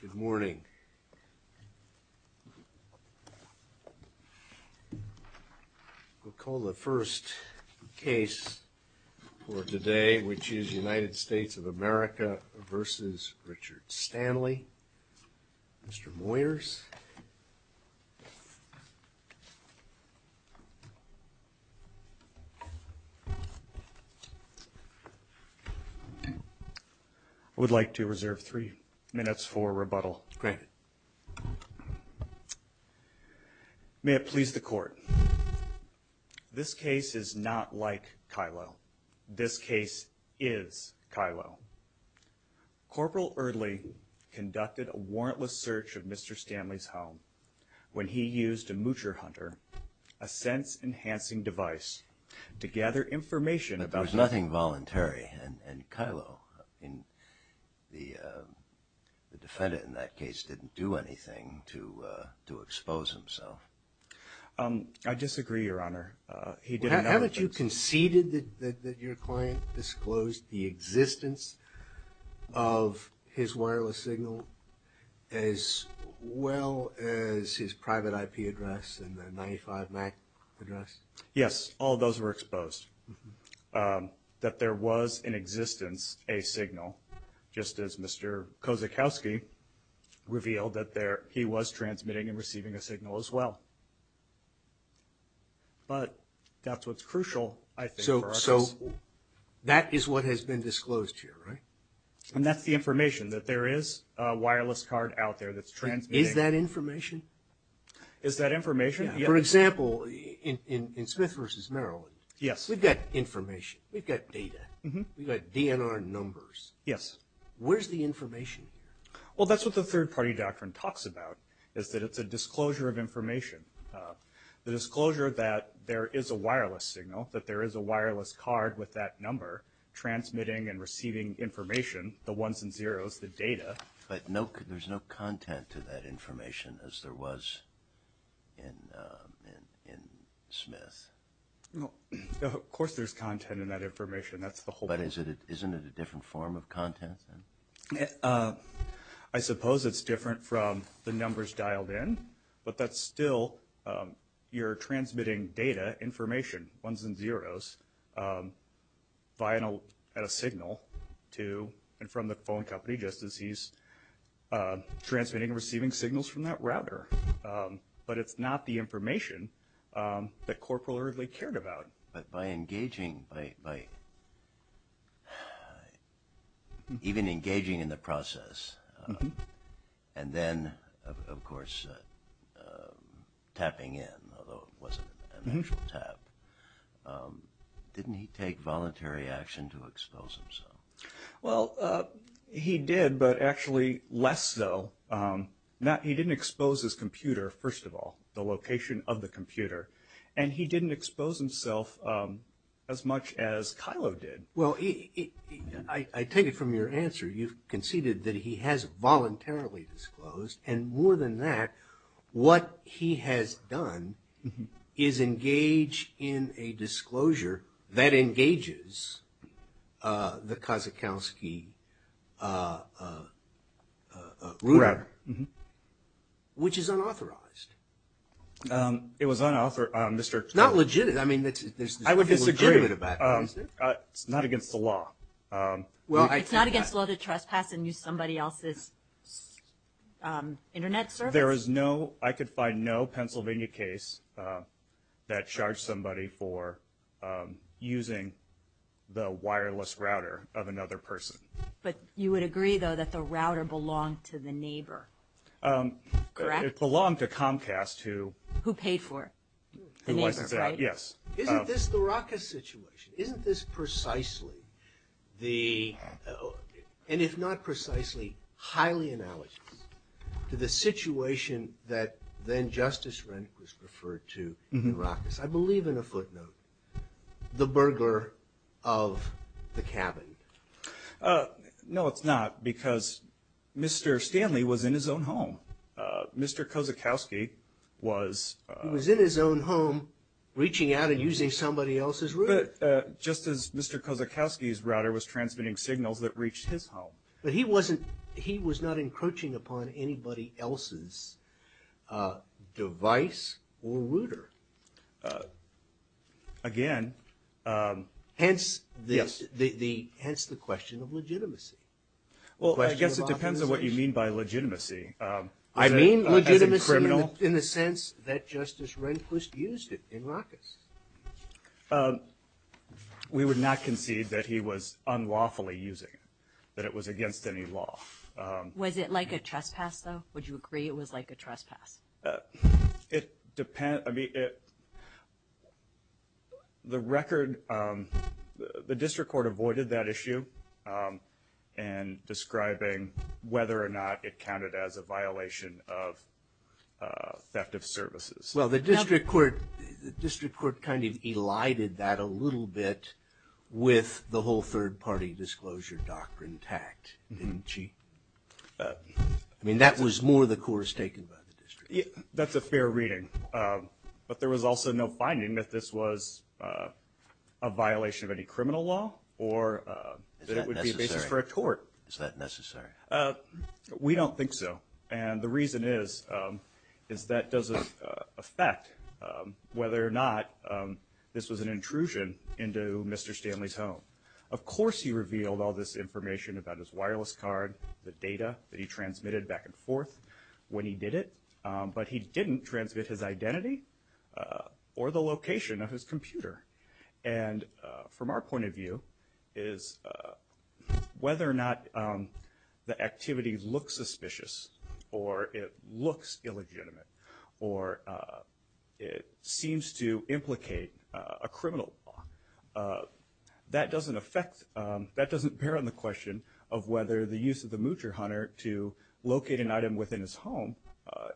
Good morning, we'll call the first case for today, which is United States of America versus Richard Stanley. Mr. Moyers. I would like to reserve three minutes for rebuttal. May it please the court. This case is not like Kylo. This case is Kylo. Corporal Eardley conducted a warrantless search of Mr. Stanley's home when he used a Moocher Hunter, a sense-enhancing device, to gather information about... There was nothing voluntary, and Kylo, the defendant in that case, didn't do anything to expose himself. I disagree, Your Honor. Haven't you conceded that your client disclosed the existence of his wireless signal as well as his private IP address and the 95 MAC address? Yes, all those were exposed. That there was in existence a signal, just as Mr. Kozakowski revealed that he was transmitting and receiving a signal as well. But that's what's crucial, I think, for us. So that is what has been disclosed here, right? And that's the information, that there is a wireless card out there that's transmitting. Is that information? Is that information? For example, in Smith v. Maryland, we've got information, we've got data, we've got DNR numbers. Yes. Where's the information here? Well, that's what the third-party doctrine talks about, is that it's a disclosure of information. The disclosure that there is a wireless signal, that there is a wireless card with that number transmitting and receiving information, the ones and zeros, the data. But there's no content to that information as there was in Smith? Of course there's content in that information. But isn't it a different form of content? I suppose it's different from the numbers dialed in, but that's still you're transmitting data, information, ones and zeros, via a signal to and from the phone company, just as he's transmitting and receiving signals from that router. But it's not the information that Corporal Erdely cared about. But by engaging, by even engaging in the process, and then, of course, tapping in, although it wasn't an actual tap, didn't he take voluntary action to expose himself? Well, he did, but actually less so. He didn't expose his computer, first of all, the location of the computer. And he didn't expose himself as much as Kylo did. Well, I take it from your answer, you've conceded that he has voluntarily disclosed. And more than that, what he has done is engage in a disclosure that engages the Kazakowski router, which is unauthorized. It was unauthorized. It's not legitimate. I would disagree. It's not against the law. Well, I take that. It's not against the law to trespass and use somebody else's Internet service? There is no, I could find no Pennsylvania case that charged somebody for using the wireless router of another person. But you would agree, though, that the router belonged to the neighbor, correct? It belonged to Comcast, who- Who paid for it, the neighbor, right? Yes. Isn't this the Ruckus situation? Isn't this precisely the, and if not precisely, highly analogous to the situation that then Justice Rehnquist referred to in Ruckus? I believe in a footnote, the burglar of the cabin. No, it's not, because Mr. Stanley was in his own home. Mr. Kazakowski was- He was in his own home, reaching out and using somebody else's router. Just as Mr. Kazakowski's router was transmitting signals that reached his home. But he wasn't, he was not encroaching upon anybody else's device or router. Again- Hence the- Yes. Hence the question of legitimacy. Well, I guess it depends on what you mean by legitimacy. I mean legitimacy in the sense that Justice Rehnquist used it in Ruckus. We would not concede that he was unlawfully using it, that it was against any law. Was it like a trespass, though? Would you agree it was like a trespass? It depends, I mean, the record, the district court avoided that issue in describing whether or not it counted as a violation of theft of services. Well, the district court kind of elided that a little bit with the whole third party disclosure doctrine tact, didn't she? I mean, that was more the course taken by the district. That's a fair reading. But there was also no finding that this was a violation of any criminal law or that it would be a basis for a court. Is that necessary? We don't think so. And the reason is, is that doesn't affect whether or not this was an intrusion into Mr. Stanley's home. Of course he revealed all this information about his wireless card, the data that he transmitted back and forth when he did it. But he didn't transmit his identity or the location of his computer. And from our point of view, is whether or not the activity looks suspicious or it looks illegitimate or it seems to implicate a criminal law, that doesn't bear on the question of whether the use of the Moocher Hunter to locate an item within his home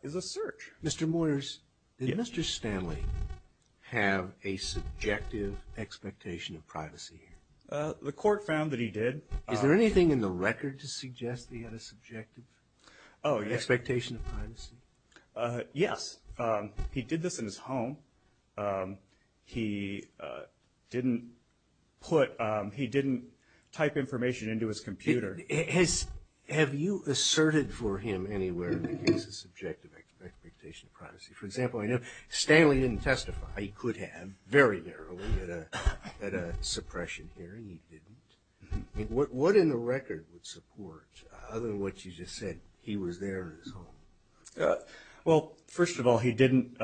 is a search. Mr. Moyers, did Mr. Stanley have a subjective expectation of privacy? The court found that he did. Is there anything in the record to suggest he had a subjective expectation of privacy? Yes. He did this in his home. He didn't type information into his computer. Have you asserted for him anywhere in the case a subjective expectation of privacy? For example, I know Stanley didn't testify. He could have, very narrowly, at a suppression hearing. He didn't. What in the record would support, other than what you just said, he was there in his home? Well, first of all, he didn't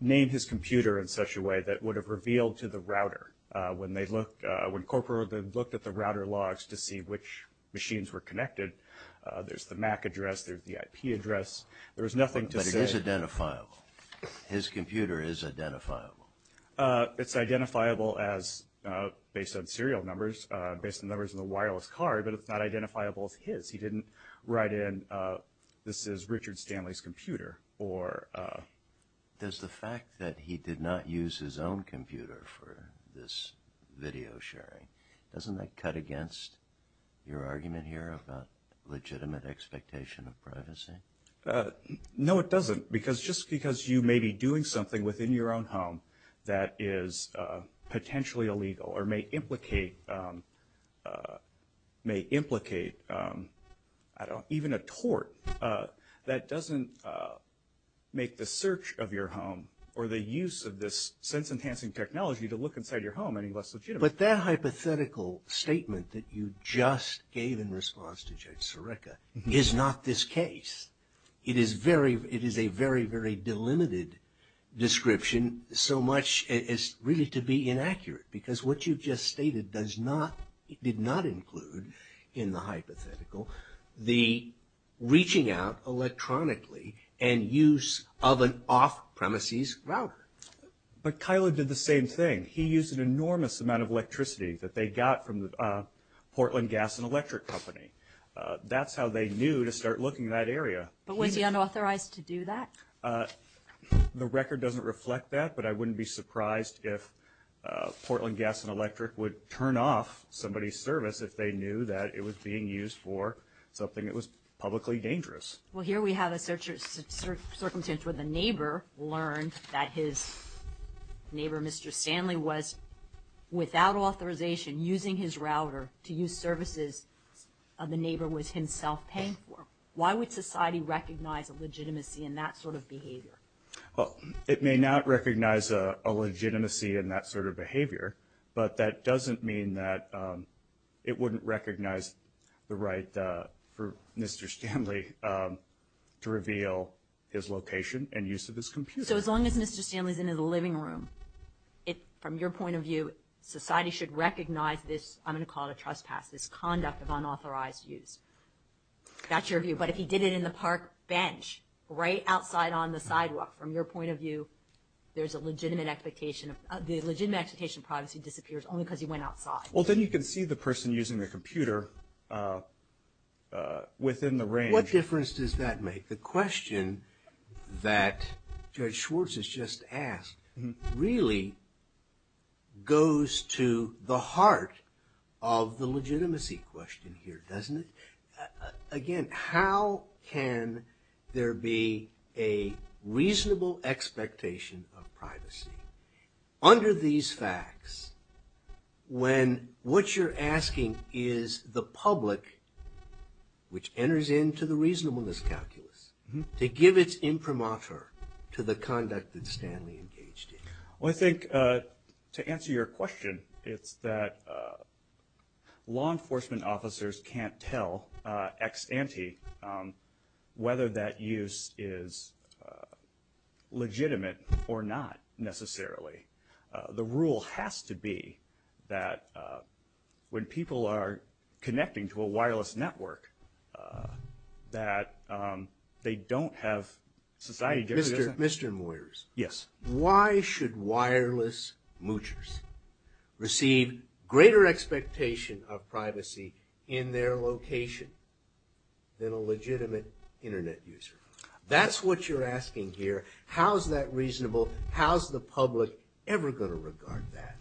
name his computer in such a way that would have revealed to the router. When corporal looked at the router logs to see which machines were connected, there's the MAC address, there's the IP address. There was nothing to say. But it is identifiable. His computer is identifiable. It's identifiable based on serial numbers, based on the numbers in the wireless card, but it's not identifiable as his. He didn't write in, this is Richard Stanley's computer. Does the fact that he did not use his own computer for this video sharing, doesn't that cut against your argument here about legitimate expectation of privacy? No, it doesn't, because just because you may be doing something within your own home that is potentially illegal or may implicate even a tort, that doesn't make the search of your home or the use of this sense-enhancing technology to look inside your home any less legitimate. But that hypothetical statement that you just gave in response to Judge Sirica is not this case. It is a very, very delimited description, so much as really to be inaccurate, because what you've just stated did not include in the hypothetical the reaching out electronically and use of an off-premises router. But Kyla did the same thing. He used an enormous amount of electricity that they got from the Portland Gas and Electric Company. That's how they knew to start looking in that area. But was he unauthorized to do that? The record doesn't reflect that, but I wouldn't be surprised if Portland Gas and Electric would turn off somebody's service if they knew that it was being used for something that was publicly dangerous. Well, here we have a circumstance where the neighbor learned that his neighbor, Mr. Stanley, was without authorization using his router to use services the neighbor was himself paying for. Why would society recognize a legitimacy in that sort of behavior? Well, it may not recognize a legitimacy in that sort of behavior, but that doesn't mean that it wouldn't recognize the right for Mr. Stanley to reveal his location and use of his computer. So as long as Mr. Stanley is in his living room, from your point of view, society should recognize this, I'm going to call it a trespass, this conduct of unauthorized use. That's your view. But if he did it in the park bench, right outside on the sidewalk, from your point of view, there's a legitimate expectation. The legitimate expectation of privacy disappears only because he went outside. Well, then you can see the person using their computer within the range. What difference does that make? The question that Judge Schwartz has just asked really goes to the heart of the legitimacy question here, doesn't it? Again, how can there be a reasonable expectation of privacy under these facts when what you're asking is the public, which enters into the reasonableness calculus, to give its imprimatur to the conduct that Stanley engaged in? Well, I think to answer your question, it's that law enforcement officers can't tell ex ante whether that use is legitimate or not, necessarily. The rule has to be that when people are connecting to a wireless network, that they don't have society giving them that. Mr. Moyers. Yes. Why should wireless moochers receive greater expectation of privacy in their location than a legitimate Internet user? That's what you're asking here. How is that reasonable? How is the public ever going to regard that?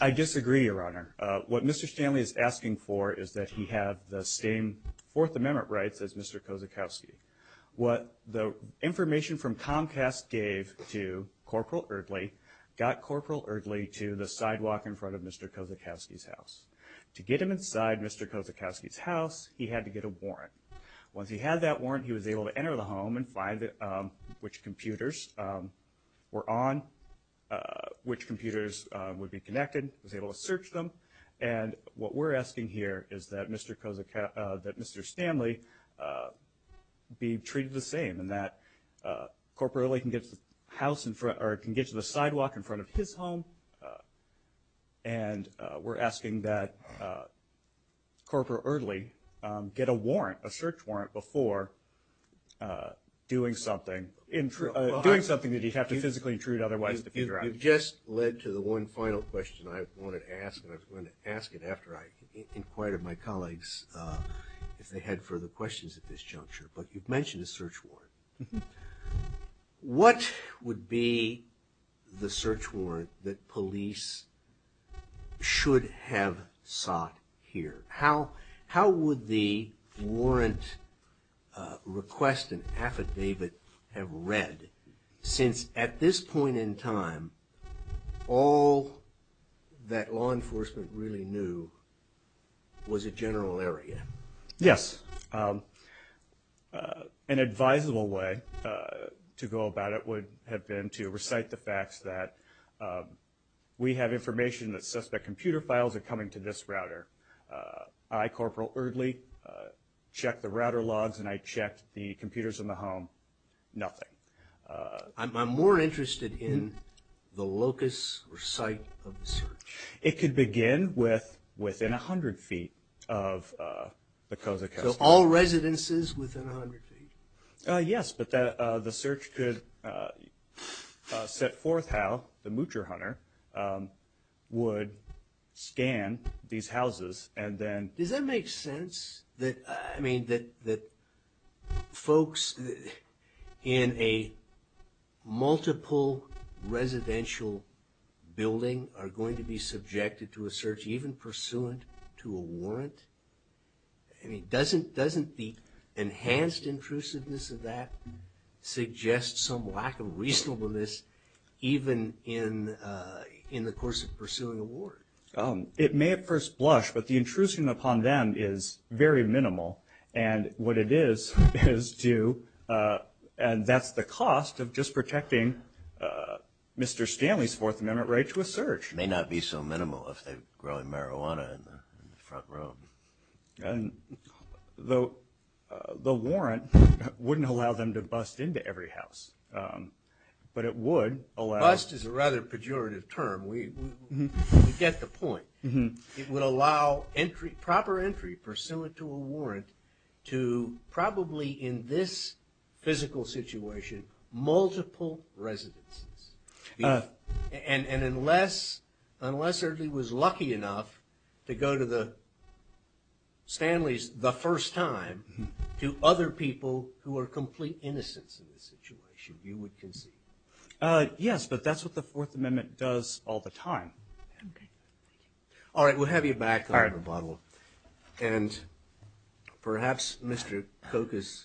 I disagree, Your Honor. What Mr. Stanley is asking for is that he have the same Fourth Amendment rights as Mr. Kozakowski. What the information from Comcast gave to Corporal Erdley, got Corporal Erdley to the sidewalk in front of Mr. Kozakowski's house. To get him inside Mr. Kozakowski's house, he had to get a warrant. Once he had that warrant, he was able to enter the home and find which computers were on, which computers would be connected. He was able to search them. What we're asking here is that Mr. Stanley be treated the same and that Corporal Erdley can get to the sidewalk in front of his home, and we're asking that Corporal Erdley get a warrant, a search warrant, before doing something that he'd have to physically intrude otherwise to figure out. You've just led to the one final question I wanted to ask, and I was going to ask it after I inquired of my colleagues if they had further questions at this juncture, but you've mentioned a search warrant. What would be the search warrant that police should have sought here? How would the warrant request and affidavit have read, since at this point in time, all that law enforcement really knew was a general area? Yes. An advisable way to go about it would have been to recite the facts that we have information that suspect computer files are coming to this router. I, Corporal Erdley, checked the router logs and I checked the computers in the home. Nothing. I'm more interested in the locus or site of the search. It could begin within 100 feet of the Kozak house. So all residences within 100 feet? Yes, but the search could set forth how the Moocher Hunter would scan these houses and then... Does that make sense that folks in a multiple residential building are going to be subjected to a search, even pursuant to a warrant? Doesn't the enhanced intrusiveness of that suggest some lack of reasonableness even in the course of pursuing a warrant? It may at first blush, but the intrusion upon them is very minimal. And what it is, is to... And that's the cost of just protecting Mr. Stanley's Fourth Amendment right to a search. It may not be so minimal if they're growing marijuana in the front room. And the warrant wouldn't allow them to bust into every house, but it would allow... That's a pejorative term. We get the point. It would allow proper entry, pursuant to a warrant, to probably, in this physical situation, multiple residences. And unless Ernie was lucky enough to go to Stanley's the first time, to other people who are complete innocents in this situation, you would concede. Yes, but that's what the Fourth Amendment does all the time. Okay. Thank you. All right, we'll have you back in a little while. And perhaps Mr. Kokas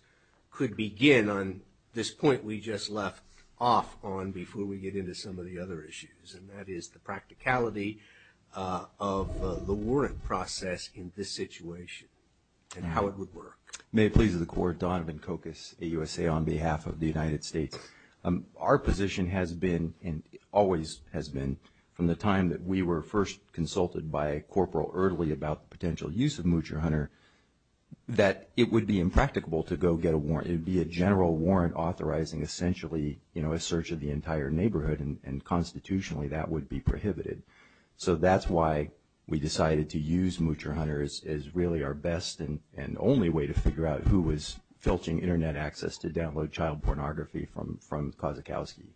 could begin on this point we just left off on before we get into some of the other issues, and that is the practicality of the warrant process in this situation and how it would work. May it please the Court, Donovan Kokas, AUSA, on behalf of the United States. Our position has been, and always has been, from the time that we were first consulted by a corporal early about the potential use of Moocher Hunter, that it would be impracticable to go get a warrant. It would be a general warrant authorizing essentially a search of the entire neighborhood, and constitutionally that would be prohibited. So that's why we decided to use Moocher Hunter as really our best and only way to figure out who was filtering Internet access to download child pornography from Kozakowski.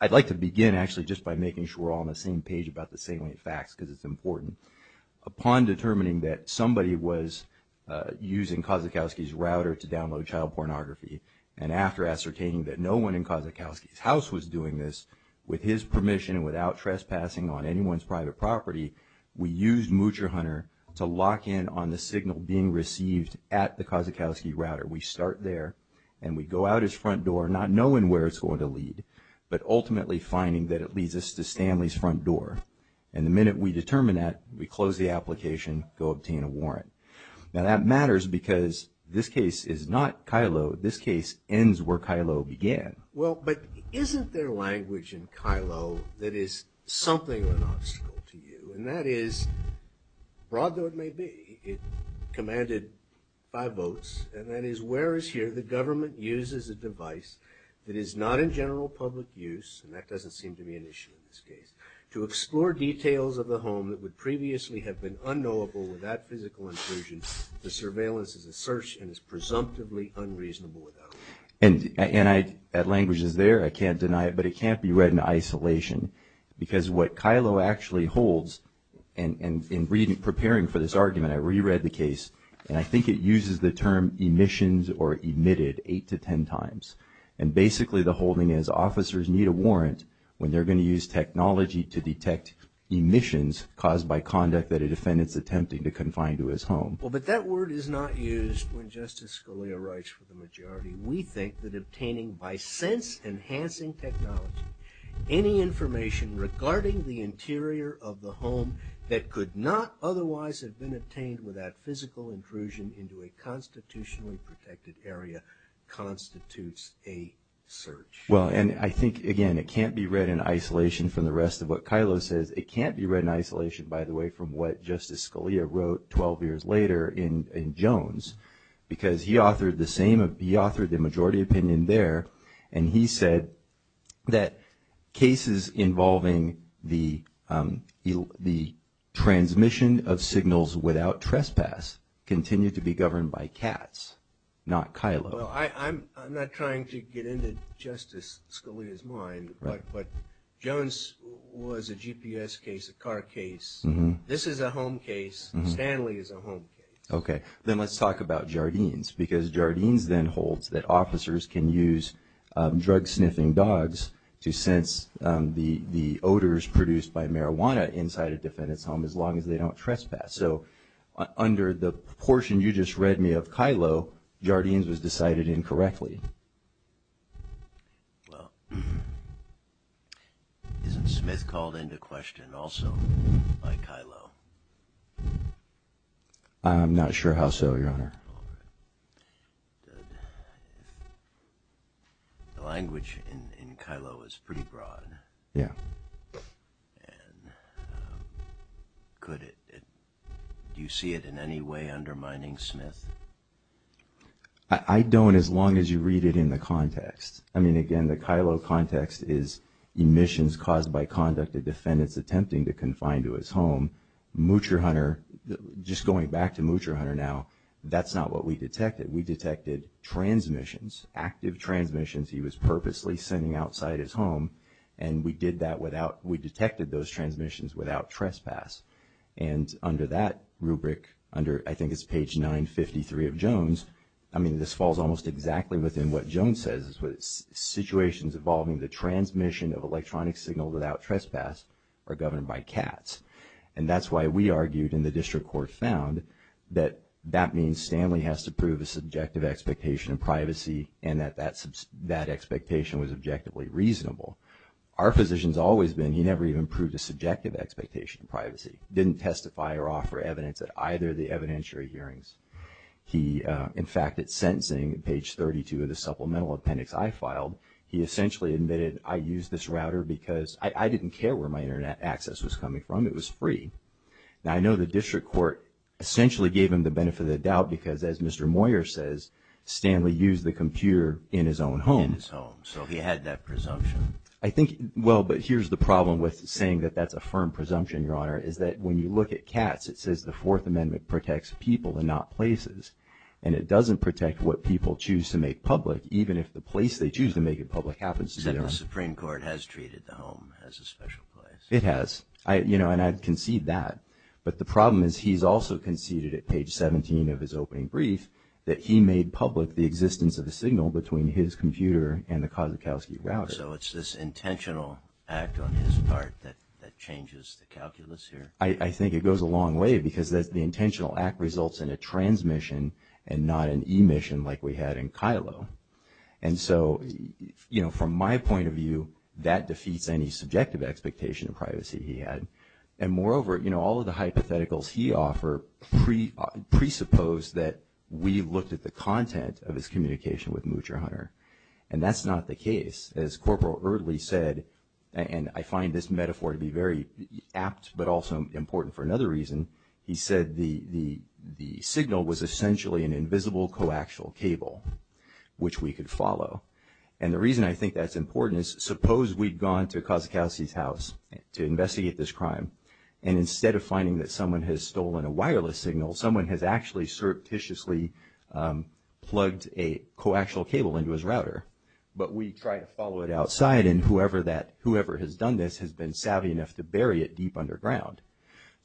I'd like to begin actually just by making sure we're all on the same page about the salient facts, because it's important. Upon determining that somebody was using Kozakowski's router to download child pornography, and after ascertaining that no one in Kozakowski's house was doing this, with his permission and without trespassing on anyone's private property, we used Moocher Hunter to lock in on the signal being received at the Kozakowski router. We start there, and we go out his front door, not knowing where it's going to lead, but ultimately finding that it leads us to Stanley's front door. And the minute we determine that, we close the application, go obtain a warrant. Now that matters because this case is not Kylo. This case ends where Kylo began. Well, but isn't there language in Kylo that is something of an obstacle to you, and that is, broad though it may be, it commanded five votes, and that is, where is here the government uses a device that is not in general public use, and that doesn't seem to be an issue in this case, to explore details of the home that would previously have been unknowable without physical intrusion, the surveillance is a search, and is presumptively unreasonable without it. And that language is there, I can't deny it, but it can't be read in isolation, because what Kylo actually holds, and in preparing for this argument, I reread the case, and I think it uses the term emissions or emitted eight to ten times, and basically the holding is officers need a warrant when they're going to use technology to detect emissions caused by conduct that a defendant's attempting to confine to his home. Well, but that word is not used when Justice Scalia writes for the majority. We think that obtaining, by sense-enhancing technology, any information regarding the interior of the home that could not otherwise have been obtained without physical intrusion into a constitutionally protected area constitutes a search. Well, and I think, again, it can't be read in isolation from the rest of what Kylo says. It can't be read in isolation, by the way, from what Justice Scalia wrote 12 years later in Jones, because he authored the majority opinion there, and he said that cases involving the transmission of signals without trespass continue to be governed by Katz, not Kylo. Well, I'm not trying to get into Justice Scalia's mind, but Jones was a GPS case, a car case. This is a home case. Stanley is a home case. Okay. Then let's talk about Jardines, because Jardines then holds that officers can use drug-sniffing dogs to sense the odors produced by marijuana inside a defendant's home as long as they don't trespass. So under the portion you just read me of Kylo, Jardines was decided incorrectly. Well, isn't Smith called into question also by Kylo? I'm not sure how so, Your Honor. The language in Kylo is pretty broad. Yeah. And could it, do you see it in any way undermining Smith? I don't as long as you read it in the context. I mean, again, the Kylo context is emissions caused by conduct a defendant's attempting to confine to his home. Moocher Hunter, just going back to Moocher Hunter now, that's not what we detected. We detected transmissions, active transmissions he was purposely sending outside his home, and we did that without, we detected those transmissions without trespass. And under that rubric, under, I think it's page 953 of Jones, I mean this falls almost exactly within what Jones says, it's situations involving the transmission of electronic signals without trespass are governed by cats. And that's why we argued and the district court found that that means Stanley has to prove a subjective expectation of privacy and that that expectation was objectively reasonable. Our position's always been he never even proved a subjective expectation of privacy, didn't testify or offer evidence at either of the evidentiary hearings. He, in fact, at sentencing, page 32 of the supplemental appendix I filed, he essentially admitted I used this router because I didn't care where my Internet access was coming from, it was free. Now I know the district court essentially gave him the benefit of the doubt because as Mr. Moyer says, Stanley used the computer in his own home. In his home, so he had that presumption. I think, well, but here's the problem with saying that that's a firm presumption, Your Honor, is that when you look at cats, it says the Fourth Amendment protects people and not places, and it doesn't protect what people choose to make public even if the place they choose to make it public happens to them. Except the Supreme Court has treated the home as a special place. It has. I, you know, and I concede that. But the problem is he's also conceded at page 17 of his opening brief that he made public the existence of a signal between his computer and the Kosakowski router. So it's this intentional act on his part that changes the calculus here? I think it goes a long way because the intentional act results in a transmission and not an emission like we had in Kylo. And so, you know, from my point of view, that defeats any subjective expectation of privacy he had. And moreover, you know, all of the hypotheticals he offered presuppose that we looked at the content of his communication with Moocher Hunter. And that's not the case. As Corporal Eardley said, and I find this metaphor to be very apt but also important for another reason, he said the signal was essentially an invisible coaxial cable which we could follow. And the reason I think that's important is suppose we'd gone to Kosakowski's house to investigate this crime and instead of finding that someone has stolen a wireless signal, someone has actually surreptitiously plugged a coaxial cable into his router. But we try to follow it outside and whoever has done this has been savvy enough to bury it deep underground.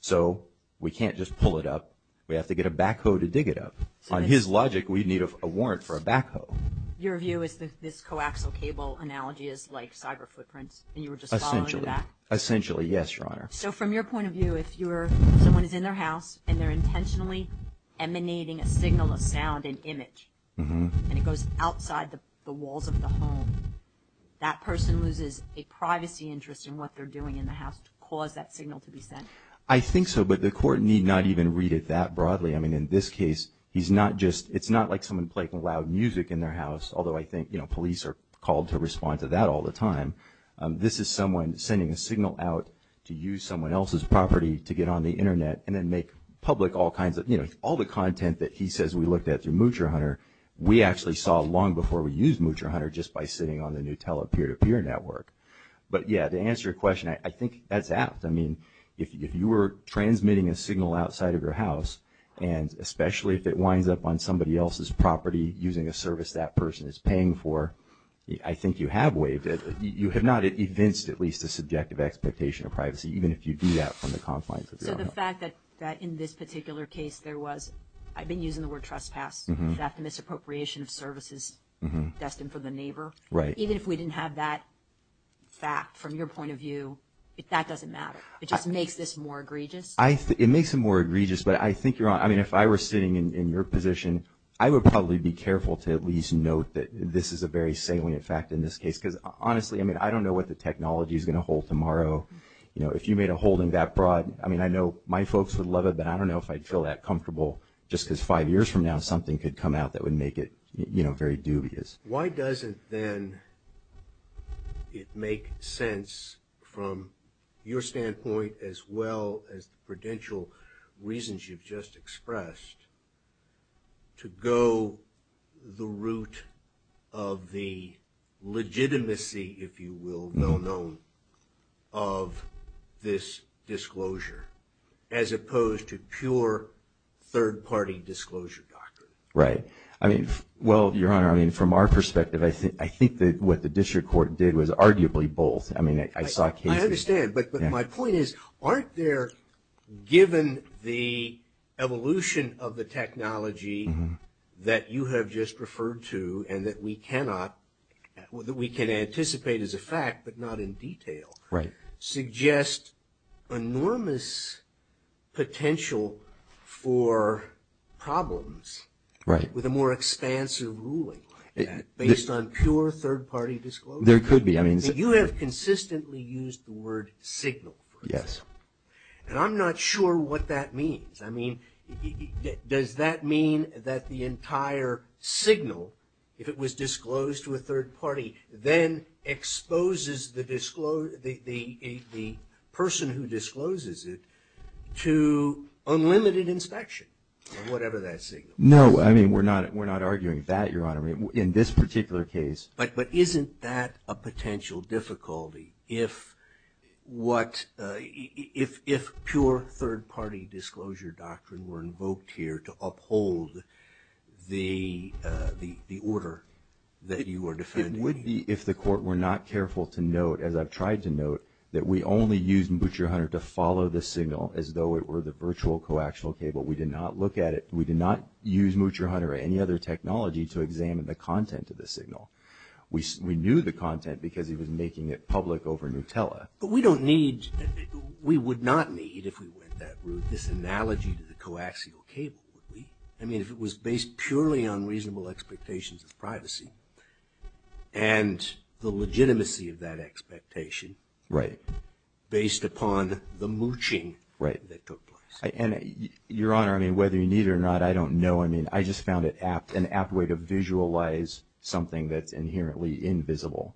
So we can't just pull it up. We have to get a backhoe to dig it up. On his logic, we'd need a warrant for a backhoe. Your view is that this coaxial cable analogy is like cyber footprints and you were just following it back? Essentially, yes, Your Honor. So from your point of view, if someone is in their house and they're intentionally emanating a signal, a sound, an image, and it goes outside the walls of the home, that person loses a privacy interest in what they're doing in the house to cause that signal to be sent? I think so, but the court need not even read it that broadly. In this case, it's not like someone playing loud music in their house, although I think police are called to respond to that all the time. This is someone sending a signal out to use someone else's property to get on the Internet and then make public all the content that he says we looked at through Moocher Hunter. We actually saw long before we used Moocher Hunter just by sitting on the Nutella peer-to-peer network. But yeah, to answer your question, I think that's apt. I mean, if you were transmitting a signal outside of your house, and especially if it winds up on somebody else's property using a service that person is paying for, I think you have waived it. You have not evinced at least a subjective expectation of privacy, even if you do that from the confines of your home. So the fact that in this particular case there was, I've been using the word trespass, is that the misappropriation of services destined for the neighbor? Right. Even if we didn't have that fact from your point of view, that doesn't matter? It just makes this more egregious? It makes it more egregious, but I think you're on. I mean, if I were sitting in your position, I would probably be careful to at least note that this is a very salient fact in this case, because honestly, I mean, I don't know what the technology is going to hold tomorrow. You know, if you made a holding that broad, I mean, I know my folks would love it, but I don't know if I'd feel that comfortable just because five years from now something could come out that would make it, you know, very dubious. Why doesn't then it make sense from your standpoint as well as the prudential reasons you've just expressed to go the route of the legitimacy, if you will, well-known, of this disclosure as opposed to pure third-party disclosure doctrine? Right. I mean, well, Your Honor, I mean, from our perspective, I think that what the district court did was arguably both. I mean, I saw cases... I understand, but my point is, aren't there, given the evolution of the technology that you have just referred to and that we cannot, that we can anticipate as a fact, but not in detail, suggest enormous potential for problems with a more expansive ruling based on pure third-party disclosure? There could be. I mean... You have consistently used the word signal. Yes. And I'm not sure what that means. I mean, does that mean that the entire signal, if it was disclosed to a third party, then exposes the person who discloses it to unlimited inspection or whatever that signal is? No. I mean, we're not arguing that, Your Honor, in this particular case. But isn't that a potential difficulty if pure third-party disclosure doctrine were invoked here to uphold the order that you are defending? It would be if the court were not careful to note, as I've tried to note, that we only used Mutcher-Hunter to follow the signal as though it were the virtual coaxial cable. We did not look at it. We did not use Mutcher-Hunter or any other technology to examine the content of the signal. We knew the content because he was making it public over Nutella. But we don't need... We would not need, if we went that route, this analogy to the coaxial cable, would we? I mean, if it was based purely on reasonable expectations of privacy and the legitimacy of that expectation based upon the mooching that took place. And, Your Honor, I mean, whether you need it or not, I don't know. I mean, I just found it an apt way to visualize something that's inherently invisible.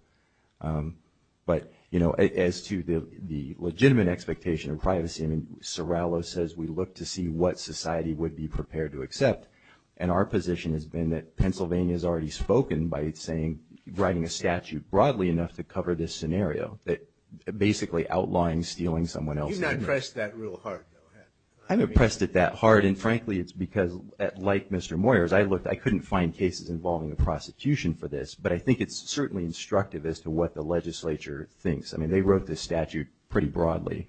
But, you know, as to the legitimate expectation of privacy, I mean, Serralo says we look to see what society would be prepared to accept. And our position has been that Pennsylvania has already spoken by saying, writing a statute broadly enough to cover this scenario, that basically outlawing stealing someone else's... You've not pressed that real hard, though, have you? I haven't pressed it that hard. And, frankly, it's because, like Mr. Moyers, I looked. I couldn't find cases involving a prosecution for this. But I think it's certainly instructive as to what the legislature thinks. I mean, they wrote this statute pretty broadly.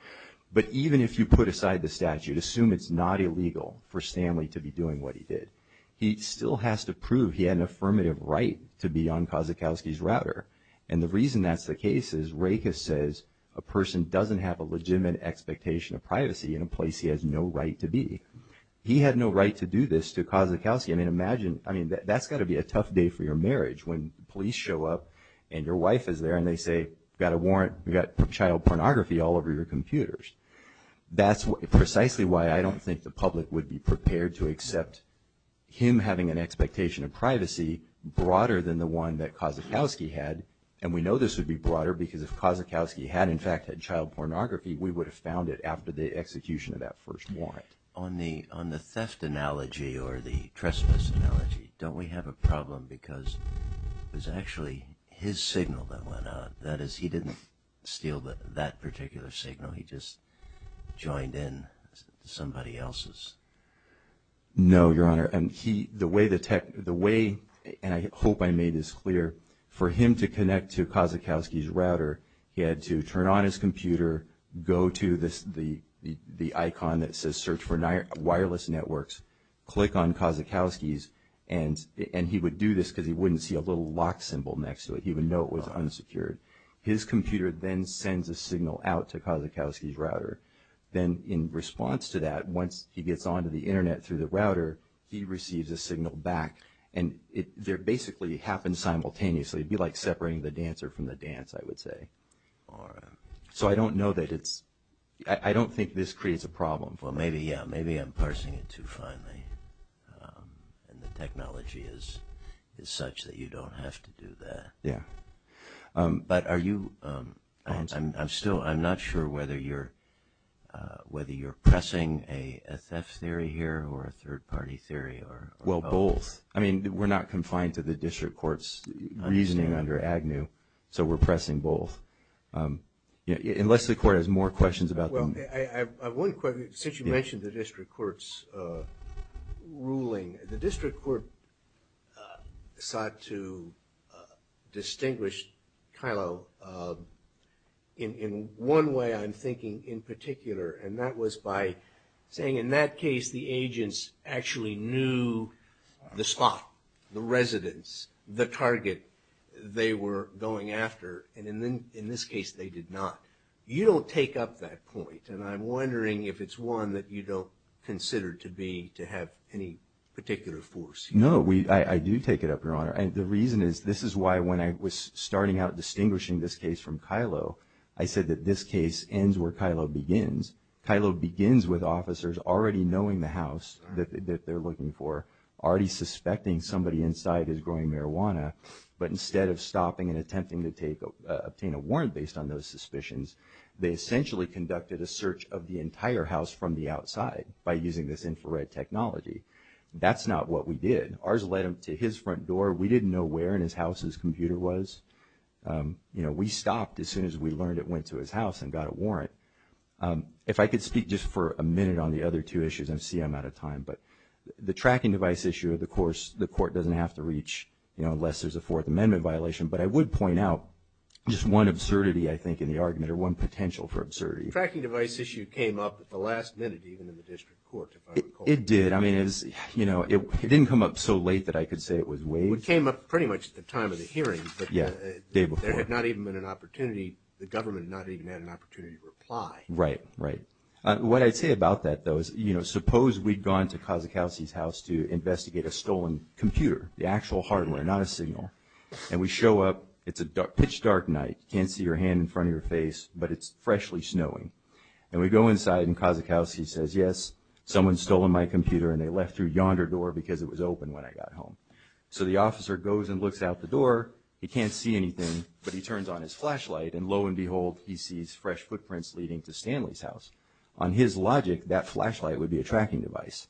But even if you put aside the statute, assume it's not illegal for Stanley to be doing what he did, he still has to prove he had an affirmative right to be on Kozakowski's router. And the reason that's the case is Raichus says a person doesn't have a legitimate expectation of privacy in a place he has no right to be. He had no right to do this to Kozakowski. I mean, imagine, I mean, that's got to be a tough day for your marriage when police show up and your wife is there and they say, we've got a warrant, we've got child pornography all over your computers. That's precisely why I don't think the public would be prepared to accept him having an expectation of privacy broader than the one that Kozakowski had. And we know this would be broader because if Kozakowski had, in fact, had child pornography, we would have found it after the execution of that first warrant. On the theft analogy or the trespass analogy, don't we have a problem because it was actually his signal that went out. That is, he didn't steal that particular signal. He just joined in somebody else's. No, Your Honor. And he, the way the tech, the way, and I hope I made this clear, for him to connect to Kozakowski's router, he had to turn on his computer, go to the icon that says search for wireless networks, click on Kozakowski's, and he would do this because he wouldn't see a little lock symbol next to it. He would know it was unsecured. His computer then sends a signal out to Kozakowski's router. Then in response to that, once he gets onto the Internet through the router, he receives a signal back. And it basically happens simultaneously. It would be like separating the dancer from the dance, I would say. So I don't know that it's, I don't think this creates a problem. Well, maybe, yeah. Maybe I'm parsing it too finely. And the technology is such that you don't have to do that. Yeah. But are you, I'm still, I'm not sure whether you're, whether you're pressing a theft theory here or a third-party theory or both. Well, both. I mean, we're not confined to the district court's reasoning under AGNU, so we're pressing both. Unless the court has more questions about them. Well, I have one question. Since you mentioned the district court's ruling, the district court sought to distinguish, Kylo, in one way I'm thinking in particular, and that was by saying in that case the agents actually knew the spot, the residence, the target they were going after. And in this case they did not. You don't take up that point. And I'm wondering if it's one that you don't consider to be, to have any particular force. No, I do take it up, Your Honor. And the reason is, this is why when I was starting out distinguishing this case from Kylo, I said that this case ends where Kylo begins. Kylo begins with officers already knowing the house that they're looking for, already suspecting somebody inside is growing marijuana, but instead of stopping and attempting to obtain a warrant based on those suspicions, they essentially conducted a search of the entire house from the outside by using this infrared technology. That's not what we did. Ours led him to his front door. We didn't know where in his house his computer was. You know, we stopped as soon as we learned it went to his house and got a warrant. If I could speak just for a minute on the other two issues, I see I'm out of time. But the tracking device issue, of course, the court doesn't have to reach, you know, unless there's a Fourth Amendment violation. But I would point out just one absurdity, I think, in the argument, or one potential for absurdity. The tracking device issue came up at the last minute, even in the district court, if I recall. It did. I mean, you know, it didn't come up so late that I could say it was waived. It came up pretty much at the time of the hearing. Yeah, the day before. There had not even been an opportunity, the government not even had an opportunity to reply. Right, right. What I'd say about that, though, is, you know, suppose we'd gone to Kozakowski's house to investigate a stolen computer, the actual hardware, not a signal. And we show up. It's a pitch-dark night. You can't see your hand in front of your face, but it's freshly snowing. And we go inside, and Kozakowski says, yes, someone's stolen my computer, and they left through yonder door because it was open when I got home. So the officer goes and looks out the door. He can't see anything, but he turns on his flashlight, and lo and behold, he sees fresh footprints leading to Stanley's house. On his logic, that flashlight would be a tracking device.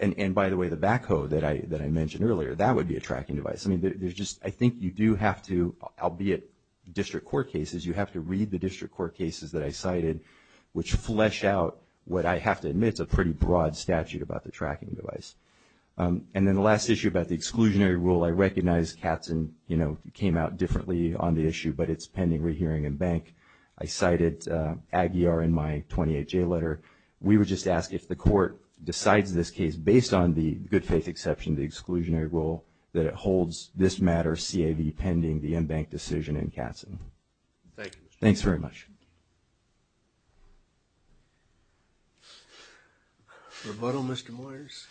And, by the way, the backhoe that I mentioned earlier, that would be a tracking device. I mean, I think you do have to, albeit district court cases, you have to read the district court cases that I cited, which flesh out what I have to admit is a pretty broad statute about the tracking device. And then the last issue about the exclusionary rule, I recognize Katzen, you know, came out differently on the issue, but it's pending rehearing in bank. I cited Aguiar in my 28-J letter. We would just ask if the court decides this case, based on the good-faith exception, the exclusionary rule, that it holds this matter CAV pending the in-bank decision in Katzen. Thank you. Thanks very much. Rebuttal, Mr. Moyers.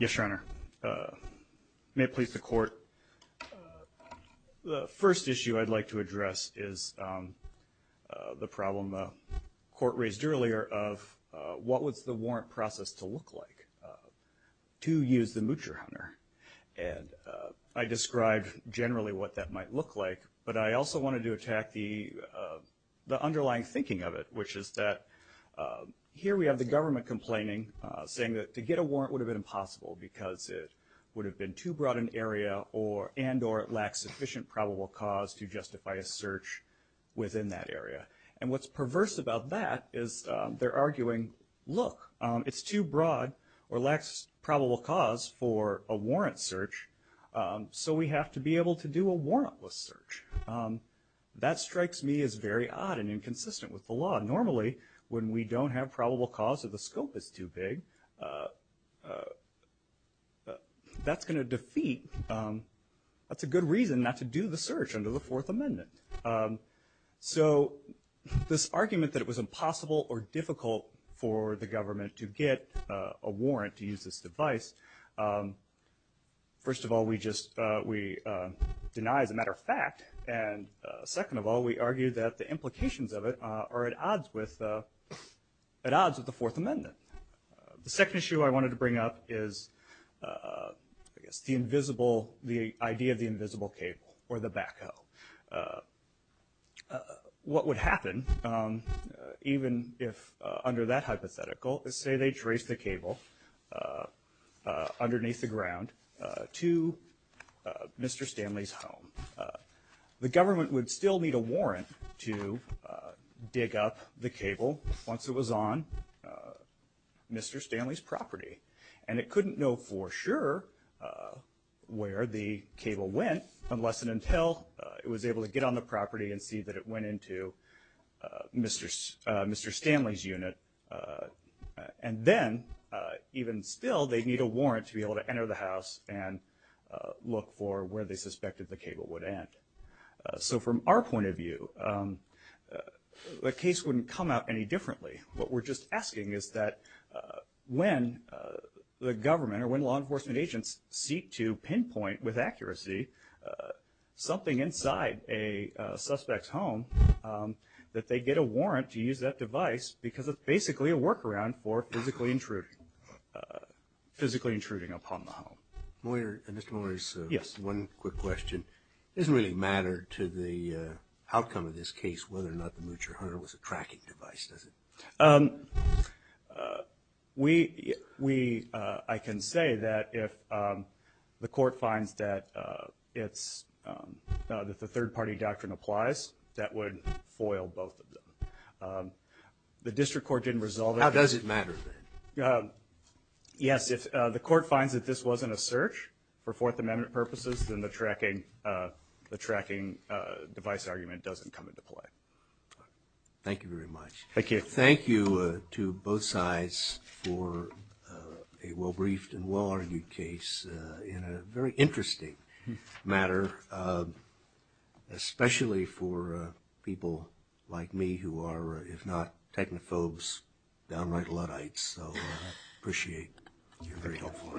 Yes, Your Honor. May it please the court. The first issue I'd like to address is the problem the court raised earlier of, what was the warrant process to look like to use the Moocher Hunter? And I described generally what that might look like, but I also wanted to attack the underlying thinking of it, which is that here we have the government complaining, saying that to get a warrant would have been impossible, because it would have been too broad an area and or it lacks sufficient probable cause to justify a search within that area. And what's perverse about that is they're arguing, look, it's too broad or lacks probable cause for a warrant search, so we have to be able to do a warrantless search. That strikes me as very odd and inconsistent with the law. Normally, when we don't have probable cause or the scope is too big, that's going to defeat, that's a good reason not to do the search under the Fourth Amendment. So this argument that it was impossible or difficult for the government to get a warrant to use this device, first of all, we just deny as a matter of fact, and second of all, we argue that the implications of it are at odds with the Fourth Amendment. The second issue I wanted to bring up is the idea of the invisible cable or the backhoe. What would happen, even if under that hypothetical, is say they trace the cable underneath the ground to Mr. Stanley's home. The government would still need a warrant to dig up the cable once it was on Mr. Stanley's property, and it couldn't know for sure where the cable went unless and until it was able to get on the property and see that it went into Mr. Stanley's unit. And then, even still, they'd need a warrant to be able to enter the house and look for where they suspected the cable would end. So from our point of view, the case wouldn't come out any differently. What we're just asking is that when the government or when law enforcement agents seek to pinpoint with accuracy something inside a suspect's home, that they get a warrant to use that device because it's basically a workaround for physically intruding upon the home. Mr. Moyer, just one quick question. It doesn't really matter to the outcome of this case whether or not the Moocher Hunter was a tracking device, does it? I can say that if the court finds that the third-party doctrine applies, that would foil both of them. The district court didn't resolve it. How does it matter, then? Yes, if the court finds that this wasn't a search for Fourth Amendment purposes, then the tracking device argument doesn't come into play. Thank you very much. Thank you. Thank you to both sides for a well-briefed and well-argued case in a very interesting matter, especially for people like me who are, if not technophobes, downright Luddites. So I appreciate your very helpful arguments.